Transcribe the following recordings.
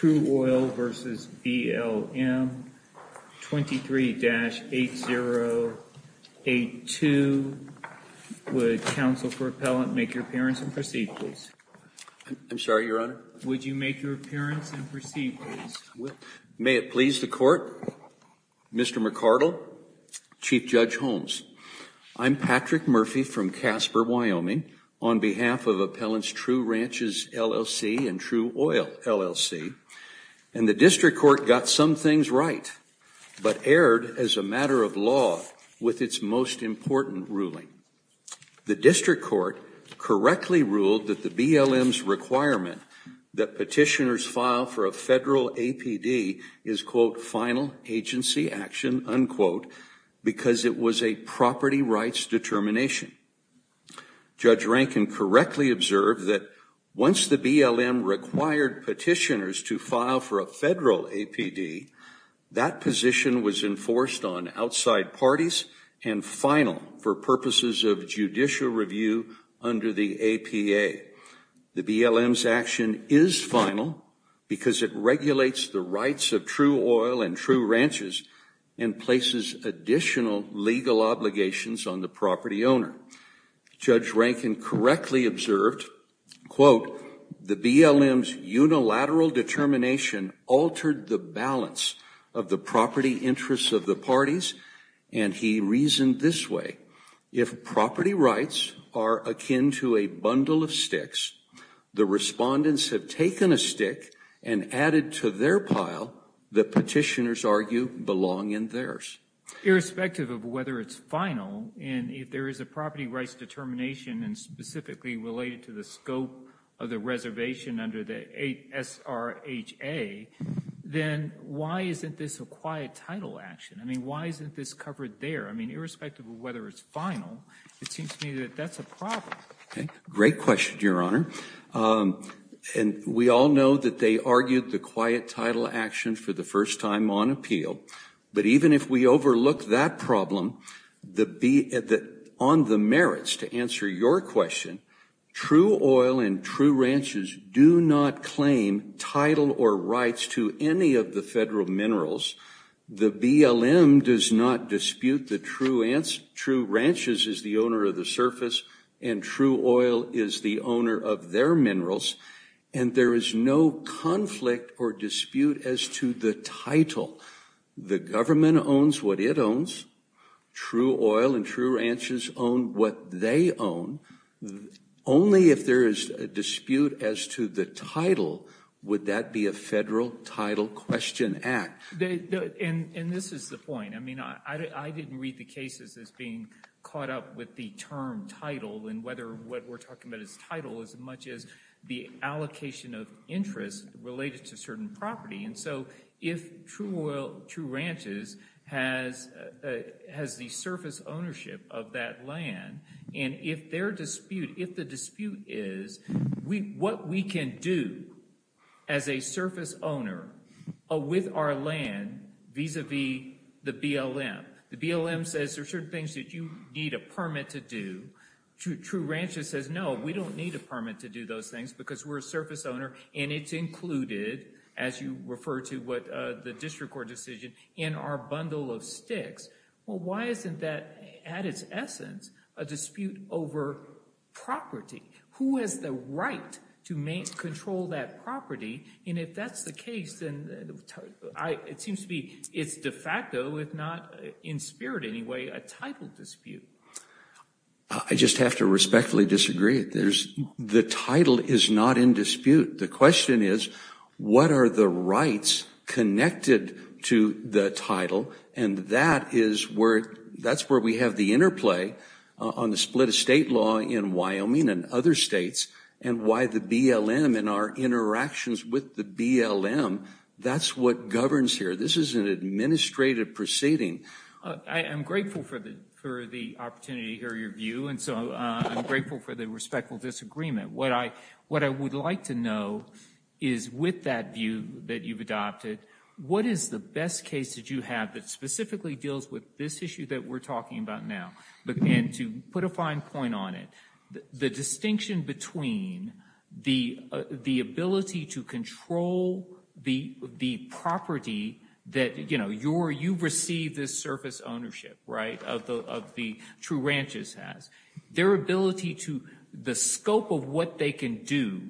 23-8082. Would counsel for appellant make your appearance and proceed please. I'm sorry your honor. Would you make your appearance and proceed please? May it please the court Mr. McArdle Chief Judge Holmes I'm Patrick Murphy from Casper, Wyoming on behalf of appellants true ranches LLC and true oil LLC and the district court got some things right But erred as a matter of law with its most important ruling the district court Correctly ruled that the BLM's requirement that petitioners file for a federal APD is quote final agency action unquote Because it was a property rights determination Judge Rankin correctly observed that once the BLM required petitioners to file for a federal APD that position was enforced on outside parties and final for purposes of judicial review under the APA the BLM's action is final because it regulates the rights of true oil and true ranches and places additional legal obligations on the property owner Judge Rankin correctly observed quote the BLM's unilateral determination altered the balance of the property interests of the parties and he reasoned this way if property rights are akin to a bundle of sticks the Respondents have taken a stick and added to their pile the petitioners argue belong in theirs Irrespective of whether it's final and if there is a property rights determination and specifically related to the scope of the reservation under the SRHA Then why isn't this a quiet title action? I mean, why isn't this covered there? I mean irrespective of whether it's final it seems to me that that's a problem. Okay, great question, Your Honor And we all know that they argued the quiet title action for the first time on appeal But even if we overlook that problem the be at that on the merits to answer your question True oil and true ranches do not claim title or rights to any of the federal minerals the BLM does not dispute the true answer true ranches is the owner of the surface and True oil is the owner of their minerals and there is no conflict or dispute as to the title The government owns what it owns True oil and true ranches own what they own Only if there is a dispute as to the title would that be a federal title question act? And and this is the point I mean I didn't read the cases as being caught up with the term title and whether what we're talking about is title as much as the allocation of interest related to certain property and so if true oil true ranches has Has the surface ownership of that land and if their dispute if the dispute is We what we can do as a surface owner With our land vis-a-vis the BLM the BLM says there are certain things that you need a permit to do True true ranches says no We don't need a permit to do those things because we're a surface owner and it's included as you refer to what? The district court decision in our bundle of sticks. Well, why isn't that at its essence a dispute over? property who has the right to main control that property and if that's the case and I it seems to be it's de facto if not in spirit. Anyway a title dispute I Just have to respectfully disagree. There's the title is not in dispute. The question is what are the rights? Connected to the title and that is where that's where we have the interplay on the split of state law in Wyoming and other states and why the BLM in our Interactions with the BLM that's what governs here. This is an administrative proceeding I'm grateful for the for the opportunity here your view. And so I'm grateful for the respectful disagreement What I what I would like to know is with that view that you've adopted What is the best case that you have that specifically deals with this issue that we're talking about now? but then to put a fine point on it the distinction between the the ability to control the Property that you know, you're you receive this surface ownership, right of the of the true ranches has Their ability to the scope of what they can do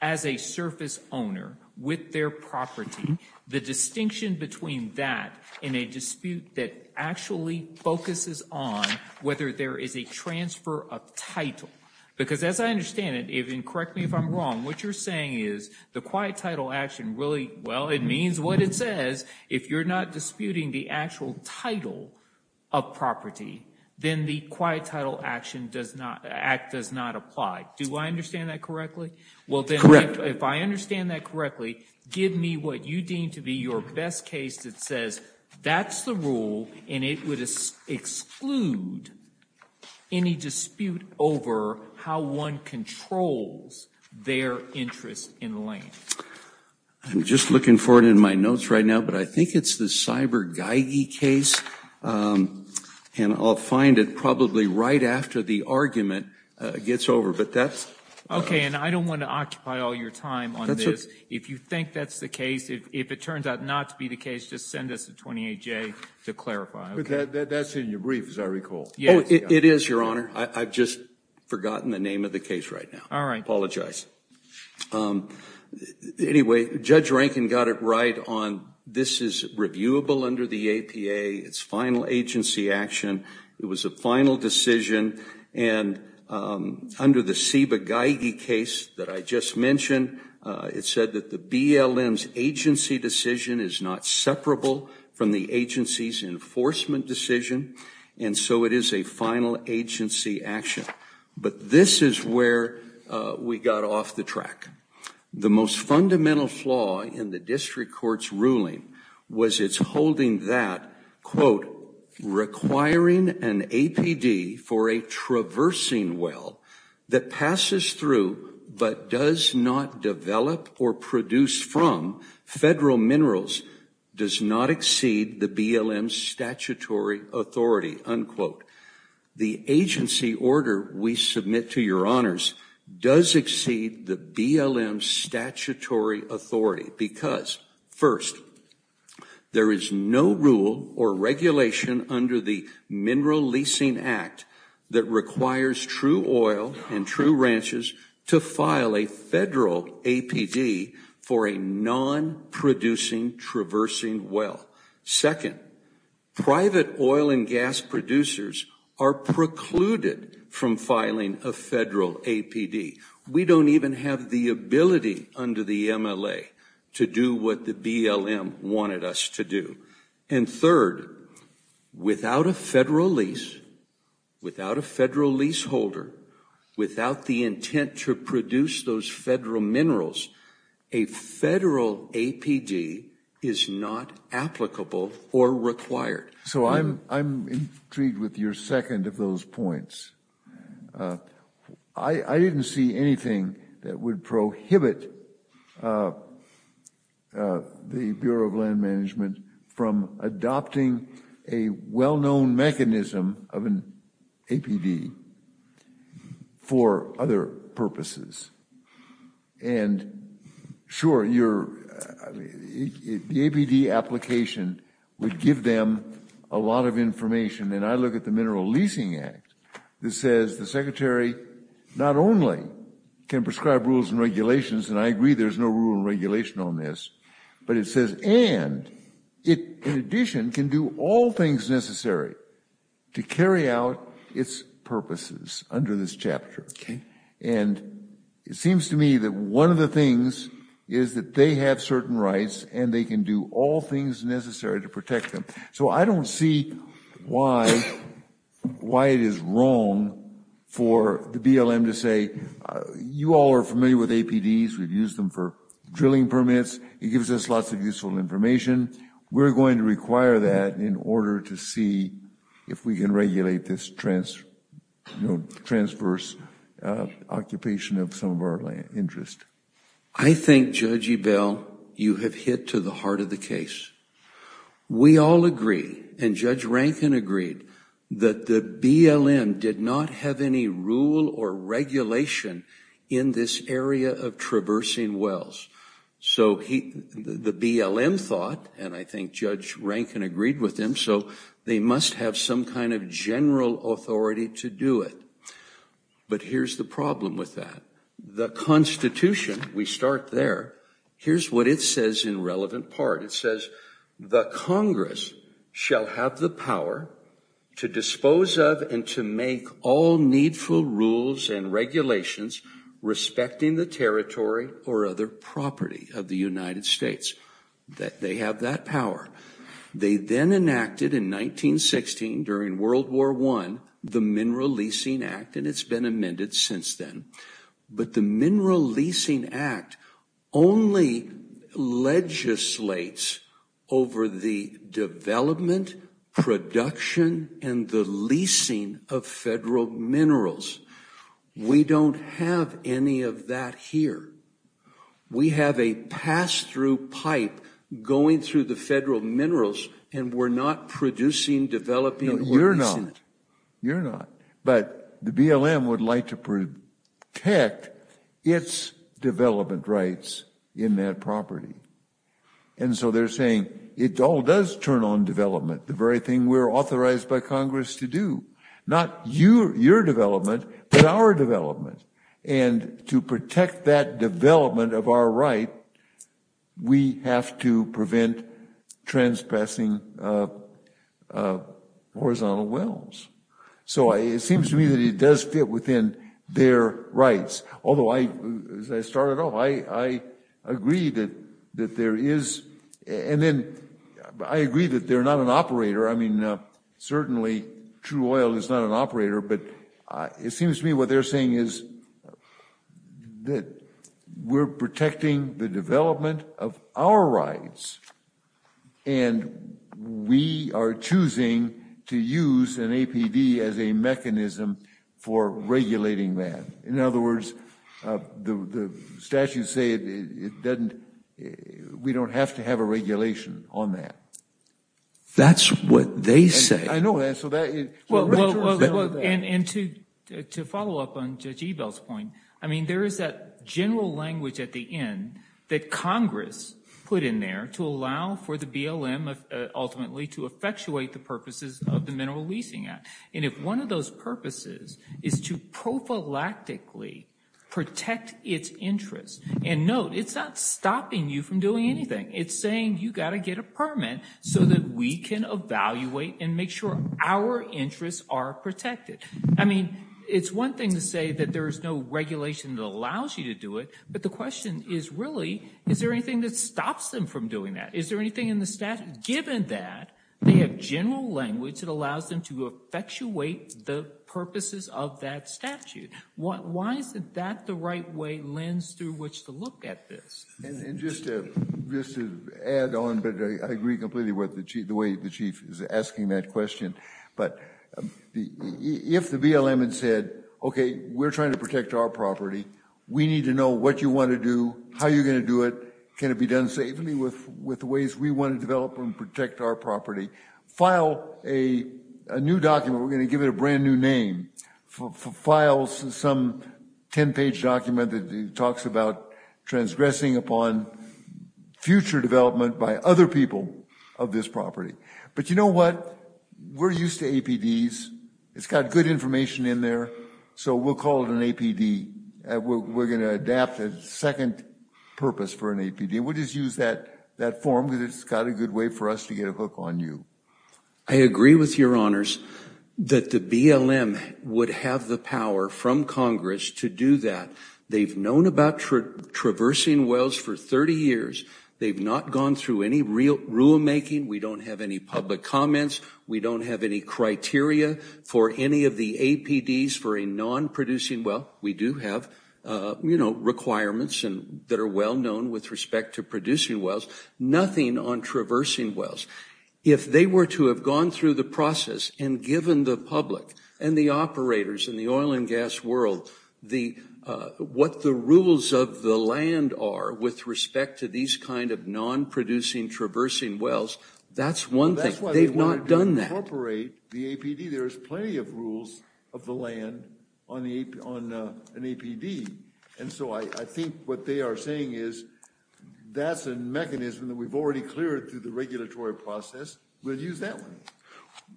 as a surface owner with their property the distinction between that in a dispute that actually Focuses on whether there is a transfer of title because as I understand it even correct me if I'm wrong what you're saying is the quiet title action really well, it means what it says if you're not disputing the actual title of Property then the quiet title action does not act does not apply. Do I understand that correctly? Well, then if I understand that correctly give me what you deem to be your best case that says that's the rule and it would exclude Any dispute over how one controls? their interest in the lane I'm just looking for it in my notes right now, but I think it's the cyber Geigy case And I'll find it probably right after the argument gets over but that's okay And I don't want to occupy all your time on this if you think that's the case if it turns out not to be the Case just send us a 28 J to clarify. Okay, that's in your brief as I recall. Yeah, it is your honor I've just forgotten the name of the case right now. All right. Apologize Anyway judge Rankin got it right on this is reviewable under the APA its final agency action it was a final decision and Under the Siba Geigy case that I just mentioned It said that the BLM's agency decision is not separable from the agency's Enforcement decision and so it is a final agency action, but this is where We got off the track The most fundamental flaw in the district courts ruling was its holding that quote requiring an APD for a Traversing well that passes through but does not develop or produce from Federal minerals does not exceed the BLM's statutory authority Unquote the agency order we submit to your honors does exceed the BLM's statutory authority because first There is no rule or regulation under the Mineral Leasing Act that requires true oil and true ranches to file a Non-producing traversing well second private oil and gas producers are precluded from filing a federal APD We don't even have the ability under the MLA to do what the BLM wanted us to do and third without a federal lease without a federal leaseholder without the intent to produce those federal minerals a Federal APD is not applicable or required. So I'm intrigued with your second of those points I Didn't see anything that would prohibit The Bureau of Land Management from adopting a well-known mechanism of an APD for other purposes and Sure you're The APD application would give them a lot of information and I look at the Mineral Leasing Act This says the secretary not only can prescribe rules and regulations and I agree There's no rule regulation on this, but it says and it in addition can do all things necessary to carry out its purposes under this chapter and It seems to me that one of the things is that they have certain rights and they can do all things Necessary to protect them. So I don't see why Why it is wrong for the BLM to say You all are familiar with APDs. We've used them for drilling permits. It gives us lots of useful information We're going to require that in order to see if we can regulate this transverse Occupation of some of our land interest. I think Judge Ebell you have hit to the heart of the case we all agree and Judge Rankin agreed that the BLM did not have any rule or regulation in this area of traversing wells So he the BLM thought and I think Judge Rankin agreed with him So they must have some kind of general authority to do it But here's the problem with that the Constitution we start there. Here's what it says in relevant part It says the Congress shall have the power to dispose of and to make all needful rules and regulations Respecting the territory or other property of the United States that they have that power They then enacted in 1916 during World War one the Mineral Leasing Act and it's been amended since then but the Mineral Leasing Act only legislates over the development production and the leasing of federal minerals We don't have any of that here We have a pass-through pipe going through the federal minerals and we're not producing Developing it. You're not you're not but the BLM would like to protect its development rights in that property and So they're saying it all does turn on development the very thing we're authorized by Congress to do not you your development, but our development and To protect that development of our right we have to prevent trespassing Horizontal wells So I it seems to me that it does fit within their rights. Although I started off I Agree that that there is and then I agree that they're not an operator. I mean Certainly true oil is not an operator, but it seems to me what they're saying is that we're protecting the development of our rights and We are choosing to use an APD as a mechanism for regulating that in other words the Statutes say it doesn't We don't have to have a regulation on that That's what they say And to to follow up on judge evils point I mean there is that general language at the end that Congress put in there to allow for the BLM Ultimately to effectuate the purposes of the Mineral Leasing Act. And if one of those purposes is to prophylactically Protect its interest and note. It's not stopping you from doing anything It's saying you got to get a permit so that we can evaluate and make sure our interests are protected I mean, it's one thing to say that there is no regulation that allows you to do it But the question is really is there anything that stops them from doing that? Is there anything in the statute given that they have general language that allows them to effectuate the purposes of that? Statute what why is it that the right way lens through which to look at this? Add on but I agree completely with the chief the way the chief is asking that question, but If the BLM had said, okay, we're trying to protect our property. We need to know what you want to do How you're going to do it? Can it be done safely with with the ways we want to develop and protect our property file a a new document? We're going to give it a brand new name files some 10-page document that talks about transgressing upon Future development by other people of this property, but you know what? We're used to APDs. It's got good information in there. So we'll call it an APD We're gonna adapt a second purpose for an APD We'll just use that that form because it's got a good way for us to get a hook on you. I Agree with your honors that the BLM would have the power from Congress to do that They've known about Traversing wells for 30 years. They've not gone through any real rulemaking. We don't have any public comments We don't have any criteria for any of the APDs for a non-producing. Well, we do have You know requirements and that are well known with respect to producing wells nothing on traversing wells if they were to have gone through the process and given the public and the operators in the oil and gas world the What the rules of the land are with respect to these kind of non-producing traversing wells That's one thing. They've not done that operate the APD There's plenty of rules of the land on the on an APD. And so I think what they are saying is That's a mechanism that we've already cleared through the regulatory process. We'll use that one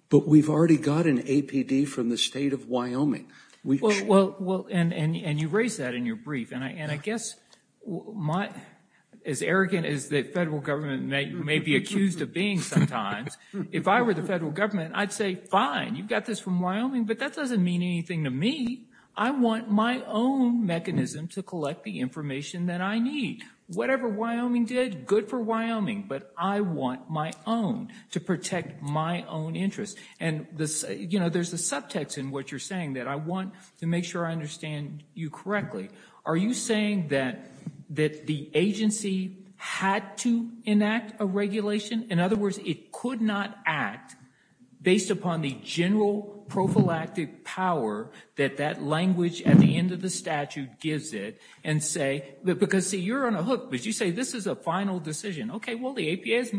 But we've already got an APD from the state of Wyoming We well well and and you raised that in your brief and I and I guess my as Arrogant is that federal government may be accused of being sometimes if I were the federal government I'd say fine. You've got this from Wyoming, but that doesn't mean anything to me I want my own mechanism to collect the information that I need whatever Wyoming did good for Wyoming But I want my own to protect my own interest and this you know There's a subtext in what you're saying that I want to make sure I understand you correctly Are you saying that that the agency had to enact a regulation? In other words, it could not act based upon the general prophylactic power that that language at the end of the statute gives it and Say that because see you're on a hook, but you say this is a final decision. Okay. Well the APA's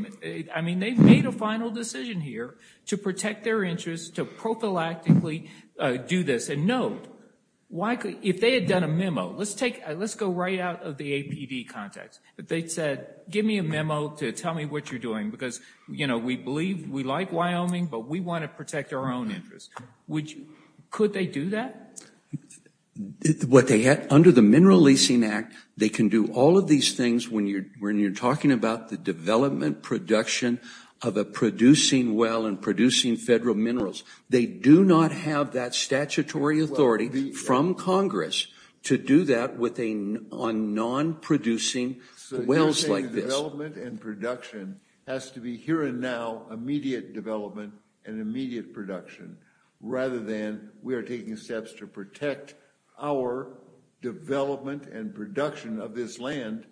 I mean they've made a final decision here to protect their interests to prophylactically do this and no Why could if they had done a memo? Let's take let's go right out of the APD context But they said give me a memo to tell me what you're doing because you know, we believe we like Wyoming But we want to protect our own interest. Would you could they do that? What they had under the mineral leasing act they can do all of these things when you're when you're talking about the development production of a producing well and producing federal minerals They do not have that statutory authority from Congress to do that with a on non-producing wells like this Development and production has to be here and now immediate development and immediate production rather than we are taking steps to protect our development and production of this land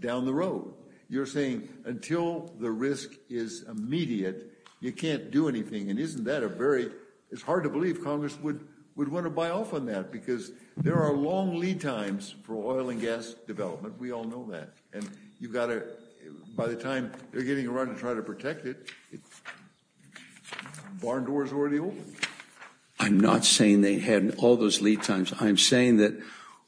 Down the road you're saying until the risk is Immediate you can't do anything and isn't that a very it's hard to believe Congress would would want to buy off on that because There are long lead times for oil and gas development We all know that and you've got it by the time they're getting around to try to protect it Barn doors already open I'm not saying they hadn't all those lead times I'm saying that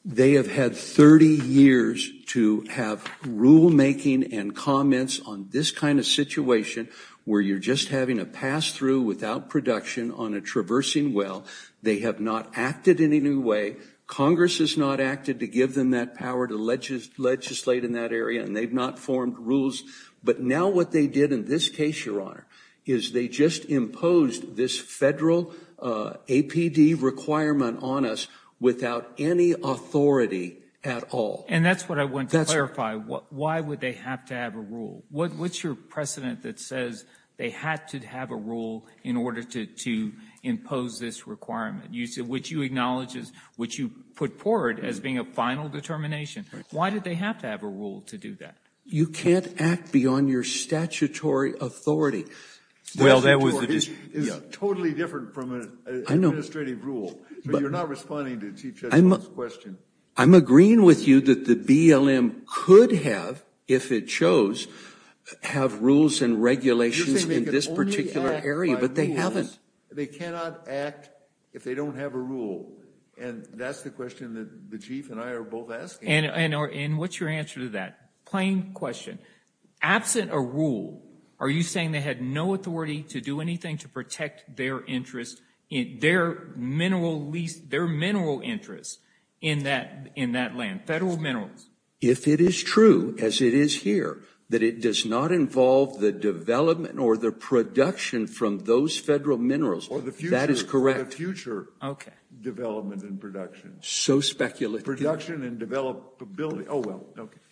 they have had 30 years to have rule making and comments on this kind of situation Where you're just having a pass-through without production on a traversing. Well, they have not acted in any way Congress has not acted to give them that power to Legislate in that area and they've not formed rules But now what they did in this case your honor is they just imposed this federal APD requirement on us without any Authority at all and that's what I want to clarify. What why would they have to have a rule? What what's your precedent that says they had to have a rule in order to to? Impose this requirement you said which you acknowledges which you put forward as being a final determination Why did they have to have a rule to do that? You can't act beyond your statutory Authority well, that was I'm agreeing with you that the BLM could have if it shows Have rules and regulations in this particular area, but they haven't They cannot act if they don't have a rule and that's the question that the chief and I are both asked and I know in What's your answer to that plain question? Absent a rule. Are you saying they had no authority to do anything to protect their interest in their Mineral lease their mineral interest in that in that land federal minerals if it is true as it is here that it does not involve the Development or the production from those federal minerals or the few that is correct future Okay, development and production so speculative production and develop ability. Oh, well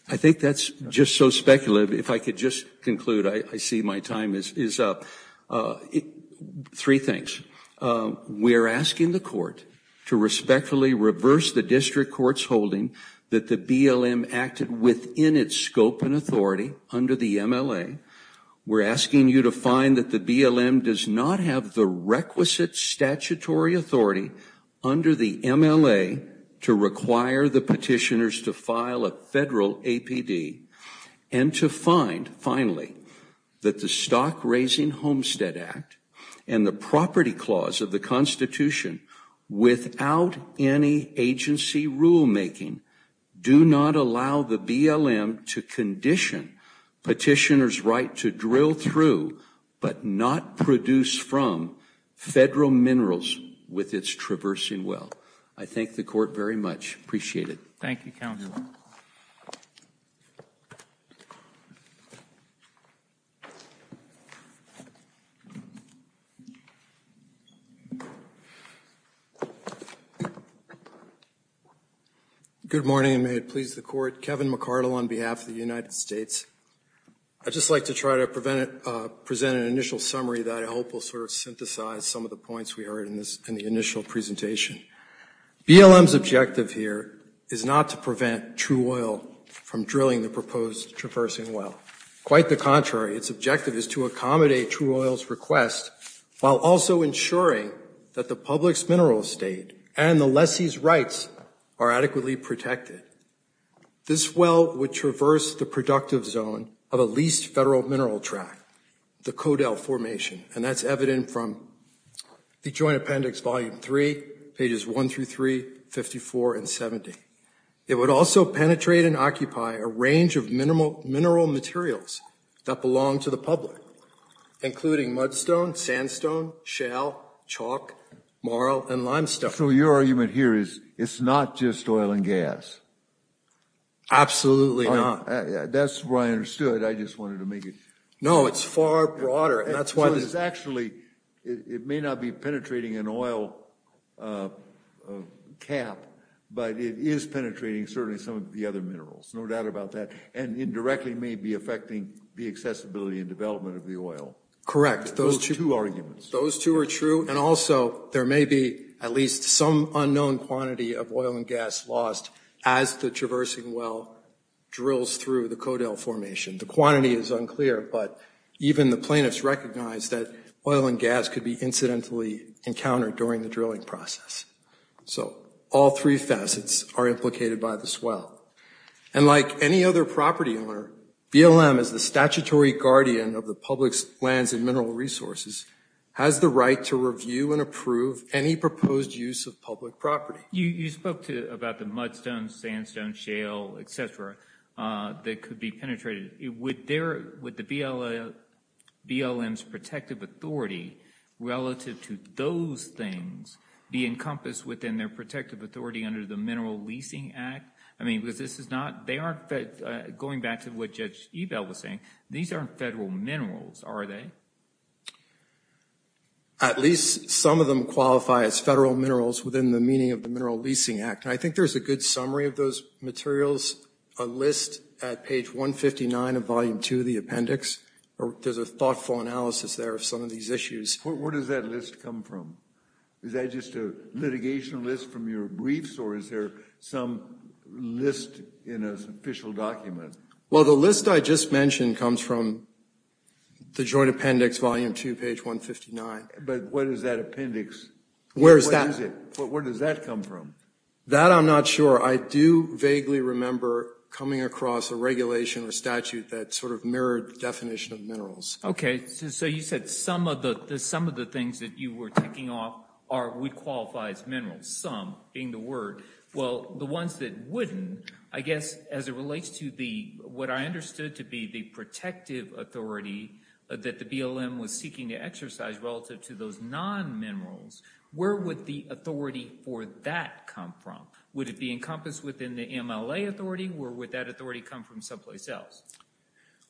I think that's just so speculative if I could just conclude I see my time is up Three things We are asking the court to respectfully reverse the district courts holding that the BLM acted within its scope and authority under the MLA We're asking you to find that the BLM does not have the requisite statutory authority Under the MLA to require the petitioners to file a federal APD and To find finally that the Stock Raising Homestead Act and the property clause of the Constitution without any agency rulemaking Do not allow the BLM to condition petitioners right to drill through but not produce from Federal minerals with its traversing. Well, I thank the court very much appreciate it. Thank you counsel Good morning, and may it please the court Kevin McCardle on behalf of the United States I'd just like to try to prevent it present an initial summary that I hope will sort of synthesize some of the points We heard in this in the initial presentation BLM's objective here is not to prevent true oil from drilling the proposed traversing Well quite the contrary its objective is to accommodate true oils request While also ensuring that the public's mineral state and the lessee's rights are adequately protected This well would traverse the productive zone of a leased federal mineral tract the codel formation and that's evident from the Joint Appendix volume 3 pages 1 through 3 54 and 70 it would also penetrate and occupy a range of minimal mineral materials that belong to the public including mudstone sandstone shale Chalk marl and limestone. So your argument here is it's not just oil and gas Absolutely, huh? Yeah, that's where I understood. I just wanted to make it. No, it's far broader That's why this actually it may not be penetrating an oil Cap but it is penetrating certainly some of the other minerals No doubt about that and indirectly may be affecting the accessibility and development of the oil Correct those two arguments those two are true And also there may be at least some unknown quantity of oil and gas lost as the traversing well Drills through the codel formation. The quantity is unclear But even the plaintiffs recognized that oil and gas could be incidentally encountered during the drilling process So all three facets are implicated by the swell and like any other property owner BLM is the statutory guardian of the public's lands and mineral resources Has the right to review and approve any proposed use of public property you you spoke to about the mudstone sandstone shale Etc That could be penetrated it would there with the BLL BLM's protective authority Relative to those things be encompassed within their protective authority under the mineral leasing act I mean because this is not they aren't going back to what judge eval was saying. These aren't federal minerals. Are they? At least some of them qualify as federal minerals within the meaning of the mineral leasing act I think there's a good summary of those materials a list at page 159 of volume 2 of the appendix There's a thoughtful analysis there of some of these issues. Where does that list come from? Is that just a litigation list from your briefs or is there some? List in an official document. Well, the list I just mentioned comes from The joint appendix volume 2 page 159, but what is that appendix? Where's that? Where does that come from that? I'm not sure I do vaguely remember coming across a regulation or statute that sort of mirrored definition of minerals Okay So you said some of the some of the things that you were taking off are we qualify as minerals some being the word? Well the ones that wouldn't I guess as it relates to the what I understood to be the protective authority That the BLM was seeking to exercise relative to those non minerals Where would the authority for that come from would it be encompassed within the MLA authority? Where would that authority come from someplace else?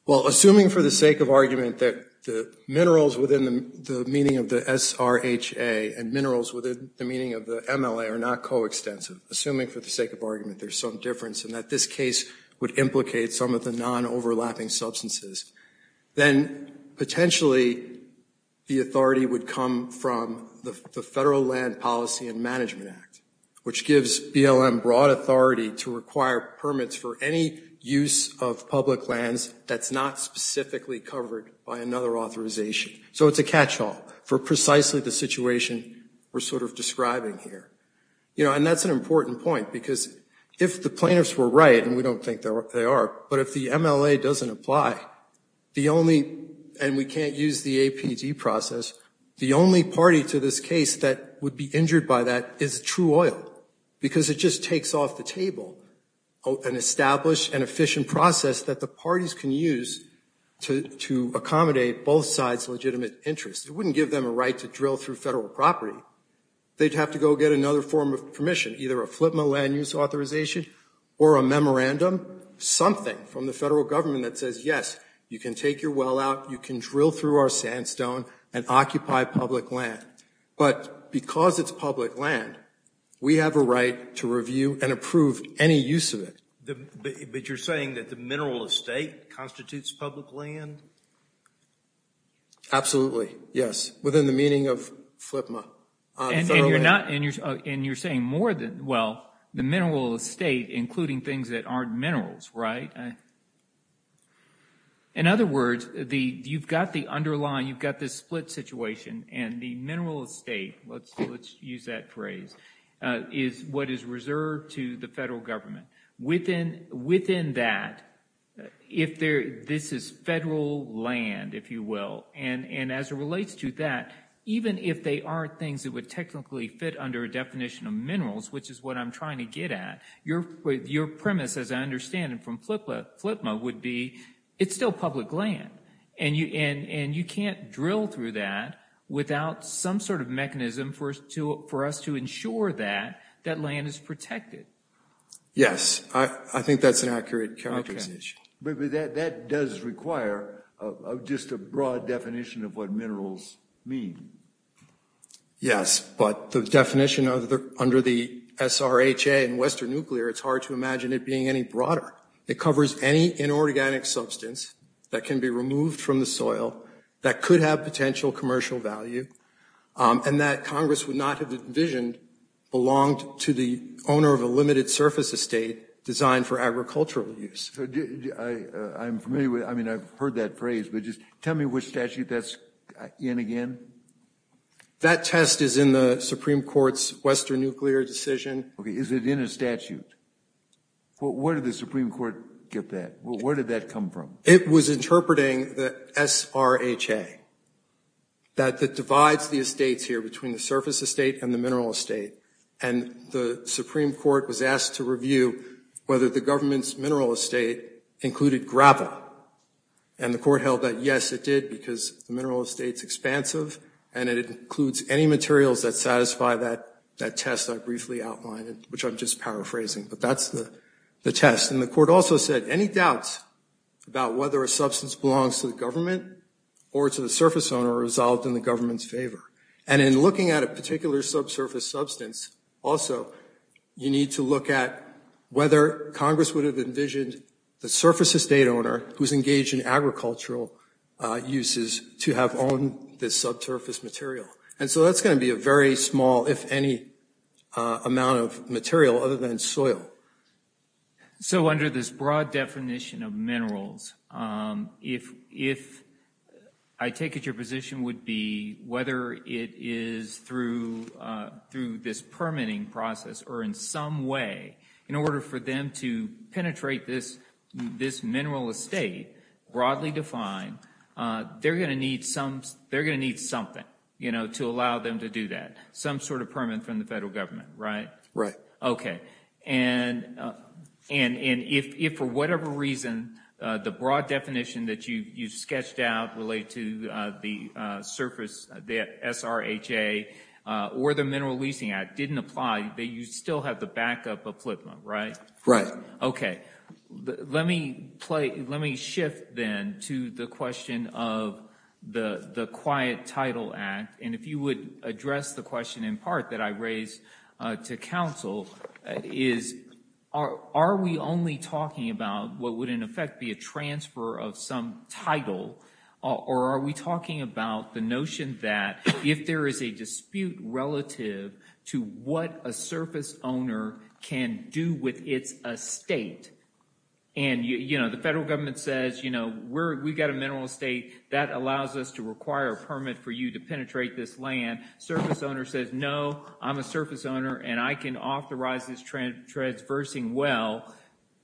well assuming for the sake of argument that the minerals within the meaning of the XRHA and minerals within the meaning of the MLA are not coextensive assuming for the sake of argument There's some difference and that this case would implicate some of the non overlapping substances then potentially The authority would come from the Federal Land Policy and Management Act Which gives BLM broad authority to require permits for any use of public lands That's not specifically covered by another authorization So it's a catch-all for precisely the situation We're sort of describing here, you know And that's an important point because if the plaintiffs were right and we don't think they are but if the MLA doesn't apply The only and we can't use the APD process The only party to this case that would be injured by that is true oil because it just takes off the table an established and efficient process that the parties can use To accommodate both sides legitimate interests, it wouldn't give them a right to drill through federal property They'd have to go get another form of permission either a FLPMA land use authorization or a memorandum Something from the federal government that says yes, you can take your well out You can drill through our sandstone and occupy public land But because it's public land we have a right to review and approve any use of it But you're saying that the mineral estate constitutes public land Absolutely, yes within the meaning of FLPMA And you're saying more than well the mineral estate including things that aren't minerals, right In other words the you've got the underlying you've got this split situation and the mineral estate Let's let's use that phrase Is what is reserved to the federal government within within that If there this is federal land if you will and and as it relates to that Even if they are things that would technically fit under a definition of minerals Which is what I'm trying to get at your with your premise as I understand it from FLPMA would be It's still public land and you and and you can't drill through that Without some sort of mechanism for us to for us to ensure that that land is protected Yes, I think that's an accurate characterization But that does require of just a broad definition of what minerals mean Yes, but the definition of the under the SRHA and Western nuclear It's hard to imagine it being any broader It covers any inorganic substance that can be removed from the soil that could have potential commercial value And that Congress would not have envisioned Belonged to the owner of a limited surface estate designed for agricultural use I'm familiar with I mean, I've heard that phrase, but just tell me which statute that's in again That test is in the Supreme Court's Western nuclear decision. Okay, is it in a statute? Well, where did the Supreme Court get that well, where did that come from it was interpreting the SRHA that that divides the estates here between the surface estate and the mineral estate and the Supreme Court was asked to review whether the government's mineral estate included gravel and The court held that yes It did because the mineral estates expansive and it includes any materials that satisfy that that test Which I'm just paraphrasing, but that's the the test and the court also said any doubts about whether a substance belongs to the government or to the surface owner resolved in the government's favor and in looking at a particular subsurface substance also You need to look at whether Congress would have envisioned the surface estate owner who's engaged in agricultural Uses to have owned this subsurface material. And so that's going to be a very small if any amount of material other than soil so under this broad definition of minerals if if I Take it your position would be whether it is through Through this permitting process or in some way in order for them to penetrate this this mineral estate broadly defined They're gonna need some they're gonna need something, you know to allow them to do that some sort of permit from the federal government right, right, okay, and and and if for whatever reason the broad definition that you you've sketched out related to the surface the SRHA Or the mineral leasing act didn't apply. They you still have the backup of Plymouth, right? Right. Okay Let me play let me shift then to the question of The the quiet title act and if you would address the question in part that I raised to council is Are we only talking about what would in effect be a transfer of some title? Or are we talking about the notion that if there is a dispute relative? to what a surface owner can do with its estate and You know the federal government says, you know We're we've got a mineral estate that allows us to require a permit for you to penetrate this land Surface owner says no, I'm a surface owner and I can authorize this trend transversing well,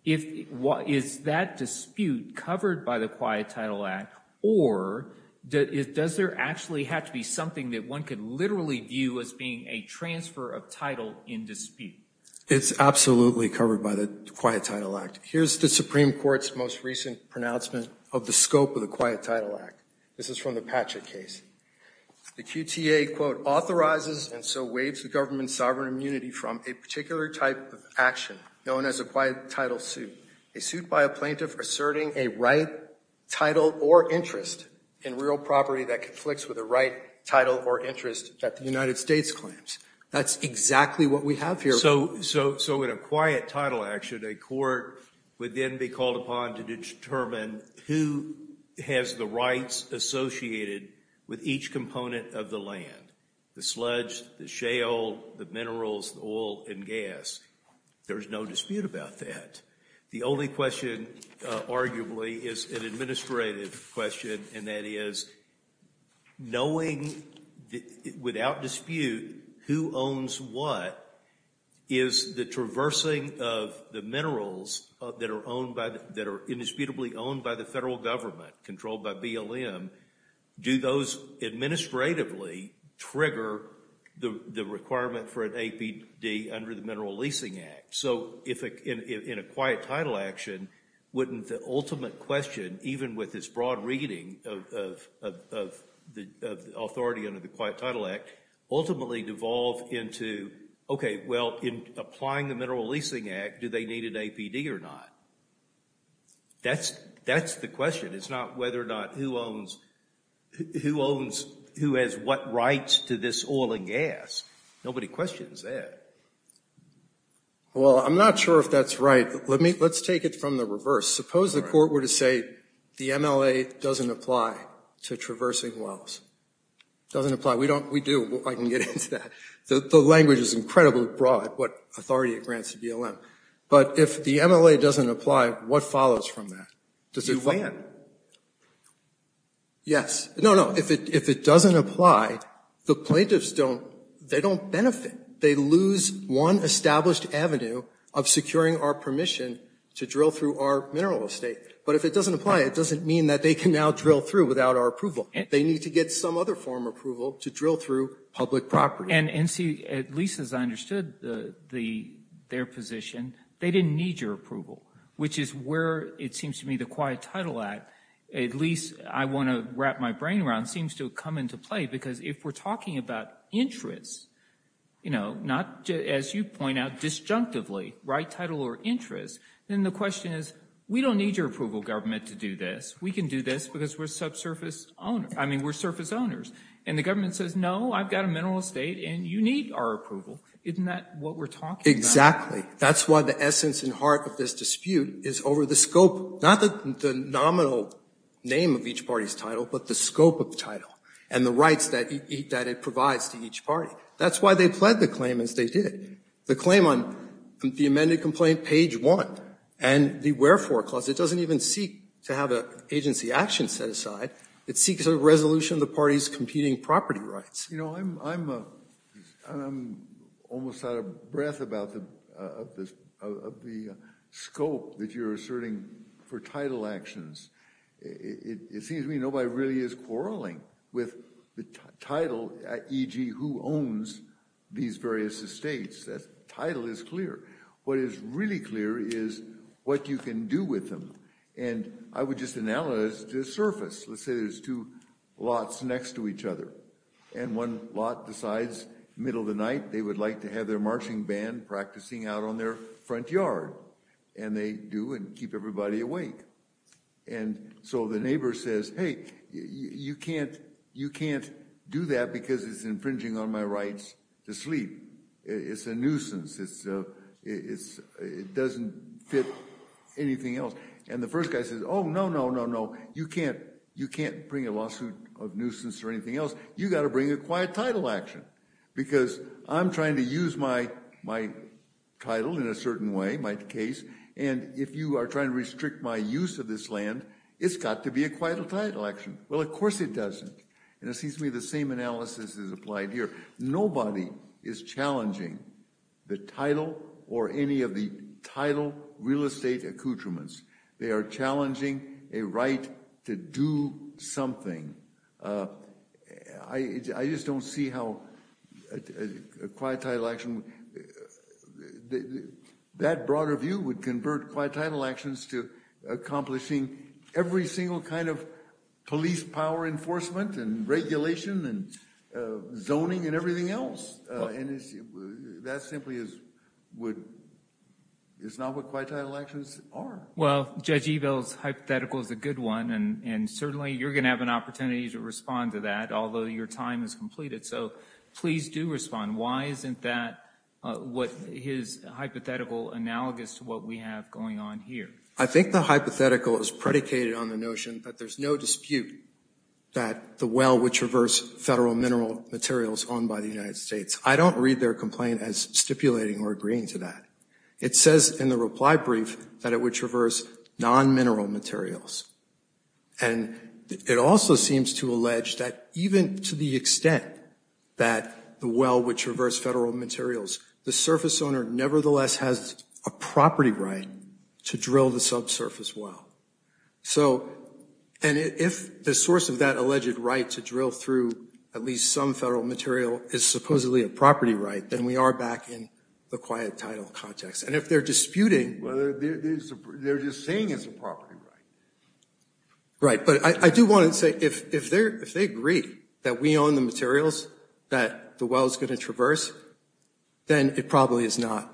if what is that dispute covered by the quiet title act or That it does there actually have to be something that one could literally view as being a transfer of title in dispute It's absolutely covered by the quiet title act. Here's the Supreme Court's most recent pronouncement of the scope of the quiet title act This is from the Patrick case The QTA quote authorizes and so waives the government sovereign immunity from a particular type of action Known as a quiet title suit a suit by a plaintiff asserting a right Title or interest in real property that conflicts with the right title or interest that the United States claims That's exactly what we have here So so so in a quiet title action a court would then be called upon to determine who? Has the rights Associated with each component of the land the sludge the shale the minerals oil and gas There's no dispute about that. The only question Arguably is an administrative question and that is knowing without dispute who owns what is The traversing of the minerals that are owned by that are indisputably owned by the federal government controlled by BLM Do those? administratively Trigger the the requirement for an APD under the mineral leasing act so if in a quiet title action wouldn't the ultimate question even with this broad reading of The authority under the quiet title act ultimately devolved into Okay. Well in applying the mineral leasing act do they need an APD or not? That's that's the question. It's not whether or not who owns Who owns who has what rights to this oil and gas? Nobody questions that Well, I'm not sure if that's right, let me let's take it from the reverse suppose the court were to say the MLA doesn't apply to traversing wells Doesn't apply we don't we do I can get into that. The language is incredibly broad what authority it grants to BLM But if the MLA doesn't apply what follows from that does it plan? Yes, no, no if it doesn't apply the plaintiffs don't they don't benefit they lose one established Avenue of Securing our permission to drill through our mineral estate But if it doesn't apply it doesn't mean that they can now drill through without our approval They need to get some other form approval to drill through public property and NC at least as I understood the the their position They didn't need your approval Which is where it seems to me the quiet title act at least I want to wrap my brain around seems to come into play Because if we're talking about Interests, you know not as you point out disjunctively right title or interest Then the question is we don't need your approval government to do this. We can do this because we're subsurface owner I mean we're surface owners and the government says no I've got a mineral estate and you need our approval isn't that what we're talking exactly? That's why the essence and heart of this dispute is over the scope not the nominal Name of each party's title but the scope of the title and the rights that eat that it provides to each party That's why they pled the claim as they did the claim on the amended complaint page one And the wherefore clause it doesn't even seek to have a agency action set aside It seeks a resolution of the party's competing property rights, you know, I'm Almost out of breath about the Scope that you're asserting for title actions It seems to me. Nobody really is quarreling with the title e.g. These various estates that title is clear What is really clear is what you can do with them, and I would just analyze the surface Let's say there's two lots next to each other and one lot decides middle of the night they would like to have their marching band practicing out on their front yard, and they do and keep everybody awake and So the neighbor says hey, you can't you can't do that because it's infringing on my rights to sleep It's a nuisance. It's It's it doesn't fit Anything else and the first guy says oh, no, no, no No, you can't you can't bring a lawsuit of nuisance or anything else you got to bring a quiet title action because I'm trying to use my my Title in a certain way my case and if you are trying to restrict my use of this land It's got to be a quiet a title action Well, of course, it doesn't and it seems to me the same analysis is applied here. Nobody is Challenging the title or any of the title real estate accoutrements They are challenging a right to do something I just don't see how a title action That broader view would convert quite title actions to accomplishing every single kind of police power enforcement and regulation and zoning and everything else That simply is would It's not what quite title actions are well judge evils Hypothetical is a good one and and certainly you're gonna have an opportunity to respond to that although your time is completed So, please do respond. Why isn't that? What his hypothetical analogous to what we have going on here? I think the hypothetical is predicated on the notion that there's no dispute that The well which reverse federal mineral materials owned by the United States. I don't read their complaint as stipulating or agreeing to that It says in the reply brief that it would traverse non-mineral materials and It also seems to allege that even to the extent that The well which reverse federal materials the surface owner nevertheless has a property right to drill the subsurface well so and If the source of that alleged right to drill through at least some federal material is supposedly a property, right? Then we are back in the quiet title context and if they're disputing They're just saying it's a property, right? But I do want to say if if they're if they agree that we own the materials that the well is going to traverse then it probably is not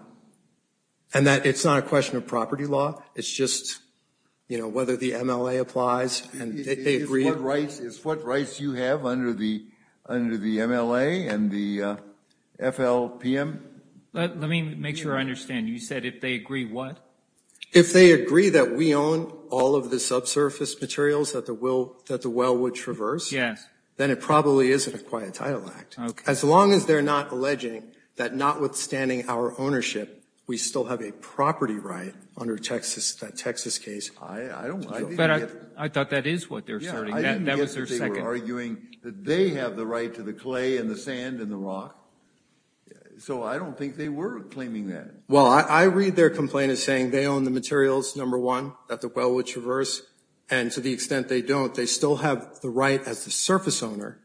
and That it's not a question of property law. It's just you know whether the MLA applies and they agree what rights is what rights you have under the under the MLA and the FLPM Let me make sure I understand you said if they agree what? If they agree that we own all of the subsurface materials that the will that the well would traverse Yes, then it probably isn't a quiet title act as long as they're not alleging that notwithstanding our ownership We still have a property right under Texas that Texas case. I Thought that is what they're saying Arguing that they have the right to the clay and the sand and the rock So I don't think they were claiming that well I read their complaint is saying they own the materials number one that the well would traverse and To the extent they don't they still have the right as the surface owner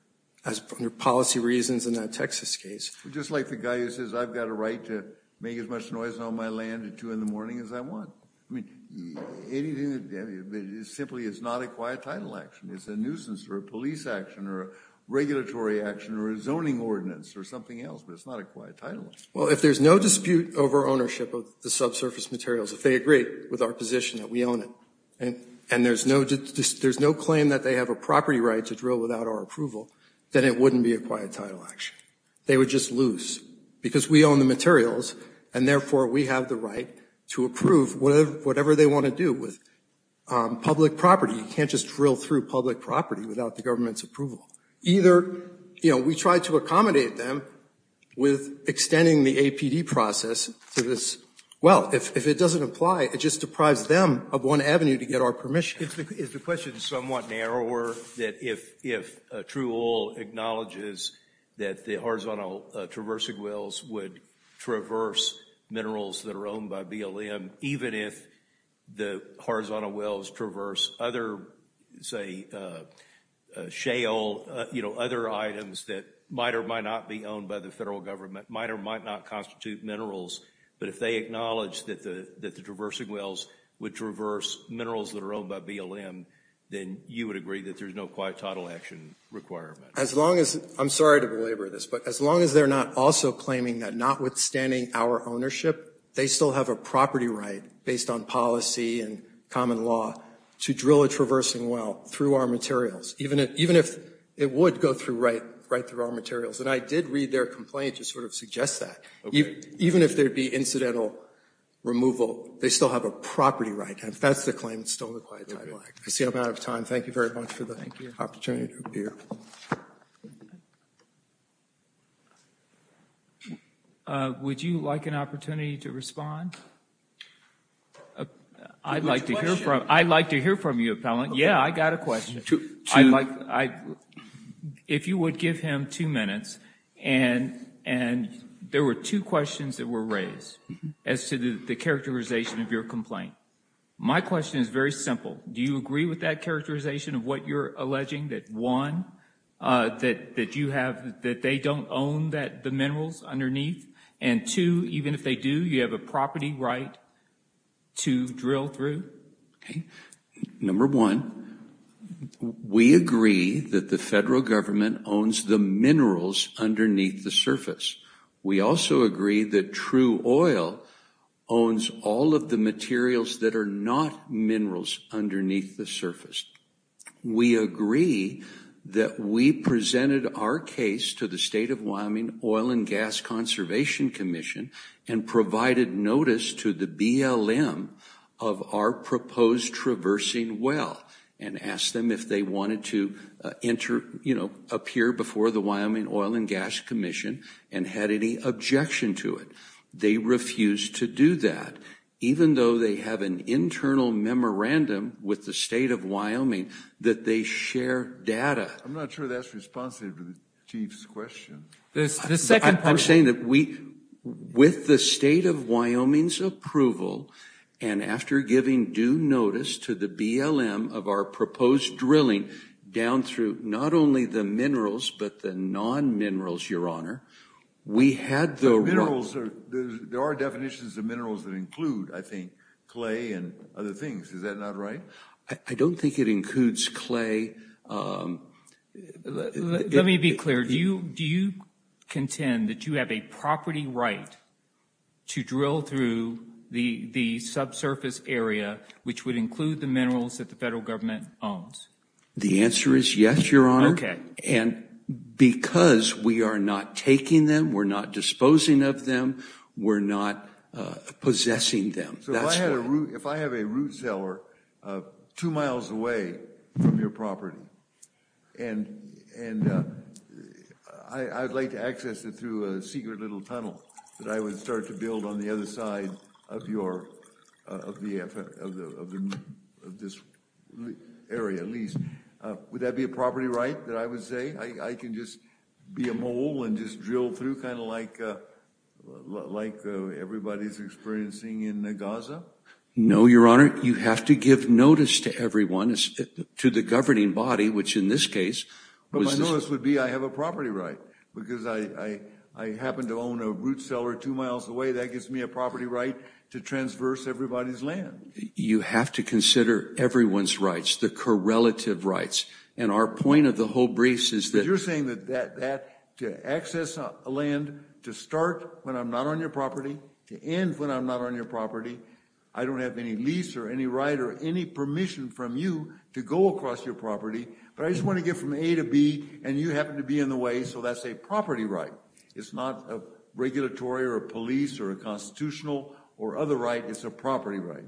as from your policy reasons in that, Texas Case just like the guy who says I've got a right to make as much noise on my land at 2 in the morning As I want Simply it's not a quiet title action. It's a nuisance or a police action or Regulatory action or a zoning ordinance or something else, but it's not a quiet title Well, if there's no dispute over ownership of the subsurface materials if they agree with our position that we own it And and there's no just there's no claim that they have a property right to drill without our approval Then it wouldn't be a quiet title action They would just lose because we own the materials and therefore we have the right to approve whatever whatever they want to do with Public property you can't just drill through public property without the government's approval either, you know, we try to accommodate them With extending the APD process to this Well, if it doesn't apply it just deprives them of one Avenue to get our permission It's the question somewhat narrower that if if true all acknowledges that the horizontal traversing wells would traverse Minerals that are owned by BLM even if the horizontal wells traverse other say Shale, you know other items that might or might not be owned by the federal government might or might not constitute minerals But if they acknowledge that the that the traversing wells would traverse minerals that are owned by BLM Then you would agree that there's no quiet title action Requirement as long as I'm sorry to belabor this but as long as they're not also claiming that notwithstanding our ownership They still have a property right based on policy and common law to drill a traversing Well through our materials even it even if it would go through right right through our materials And I did read their complaint to sort of suggest that you even if there'd be incidental Removal, they still have a property, right? And if that's the claim, it's still required. I see an amount of time Thank you very much for the opportunity Would you like an opportunity to respond I'd like to hear from I'd like to hear from you appellant. Yeah, I got a question too. I'd like I if you would give him two minutes and and There were two questions that were raised as to the characterization of your complaint. My question is very simple Do you agree with that characterization of what you're alleging that one? That that you have that they don't own that the minerals underneath and to even if they do you have a property, right? to drill through number one We agree that the federal government owns the minerals underneath the surface We also agree that true oil Owns all of the materials that are not minerals underneath the surface We agree that we presented our case to the state of Wyoming Oil and Gas Conservation Commission and provided notice to the BLM of our proposed Traversing well and asked them if they wanted to Enter, you know appear before the Wyoming Oil and Gas Commission and had any objection to it They refused to do that Even though they have an internal memorandum with the state of Wyoming that they share data I'm not sure that's responsive to the chief's question this the second time saying that we with the state of Wyoming's approval and After giving due notice to the BLM of our proposed drilling down through not only the minerals But the non minerals your honor We had the minerals There are definitions of minerals that include I think clay and other things. Is that not right? I don't think it includes clay Let me be clear do you do you Contend that you have a property, right? to drill through the Subsurface area which would include the minerals that the federal government owns. The answer is yes, your honor. Okay, and Because we are not taking them we're not disposing of them. We're not Possessing them. So if I had a root if I have a root cellar two miles away from your property and and I I'd like to access it through a secret little tunnel that I would start to build on the other side of your Of the this Area at least would that be a property right that I would say I can just be a mole and just drill through kind of like like Everybody's experiencing in the Gaza. No, your honor. You have to give notice to everyone to the governing body which in this case this would be I have a property right because I Happen to own a root cellar two miles away that gives me a property right to transverse everybody's land You have to consider everyone's rights the correlative rights and our point of the whole briefs is that you're saying that that To access a land to start when I'm not on your property to end when I'm not on your property I don't have any lease or any right or any permission from you to go across your property But I just want to get from A to B and you happen to be in the way So that's a property, right? It's not a regulatory or a police or a constitutional or other right? It's a property, right?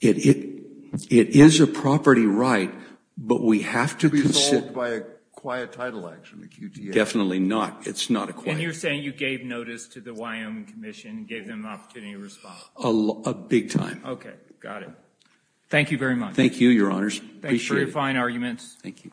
It it it is a property, right? But we have to be solved by a quiet title action the QT definitely not it's not a claim You're saying you gave notice to the Wyoming Commission gave them an opportunity to respond a big time. Okay. Got it Thank you very much. Thank you. Your honors. Thanks for your fine arguments. Thank you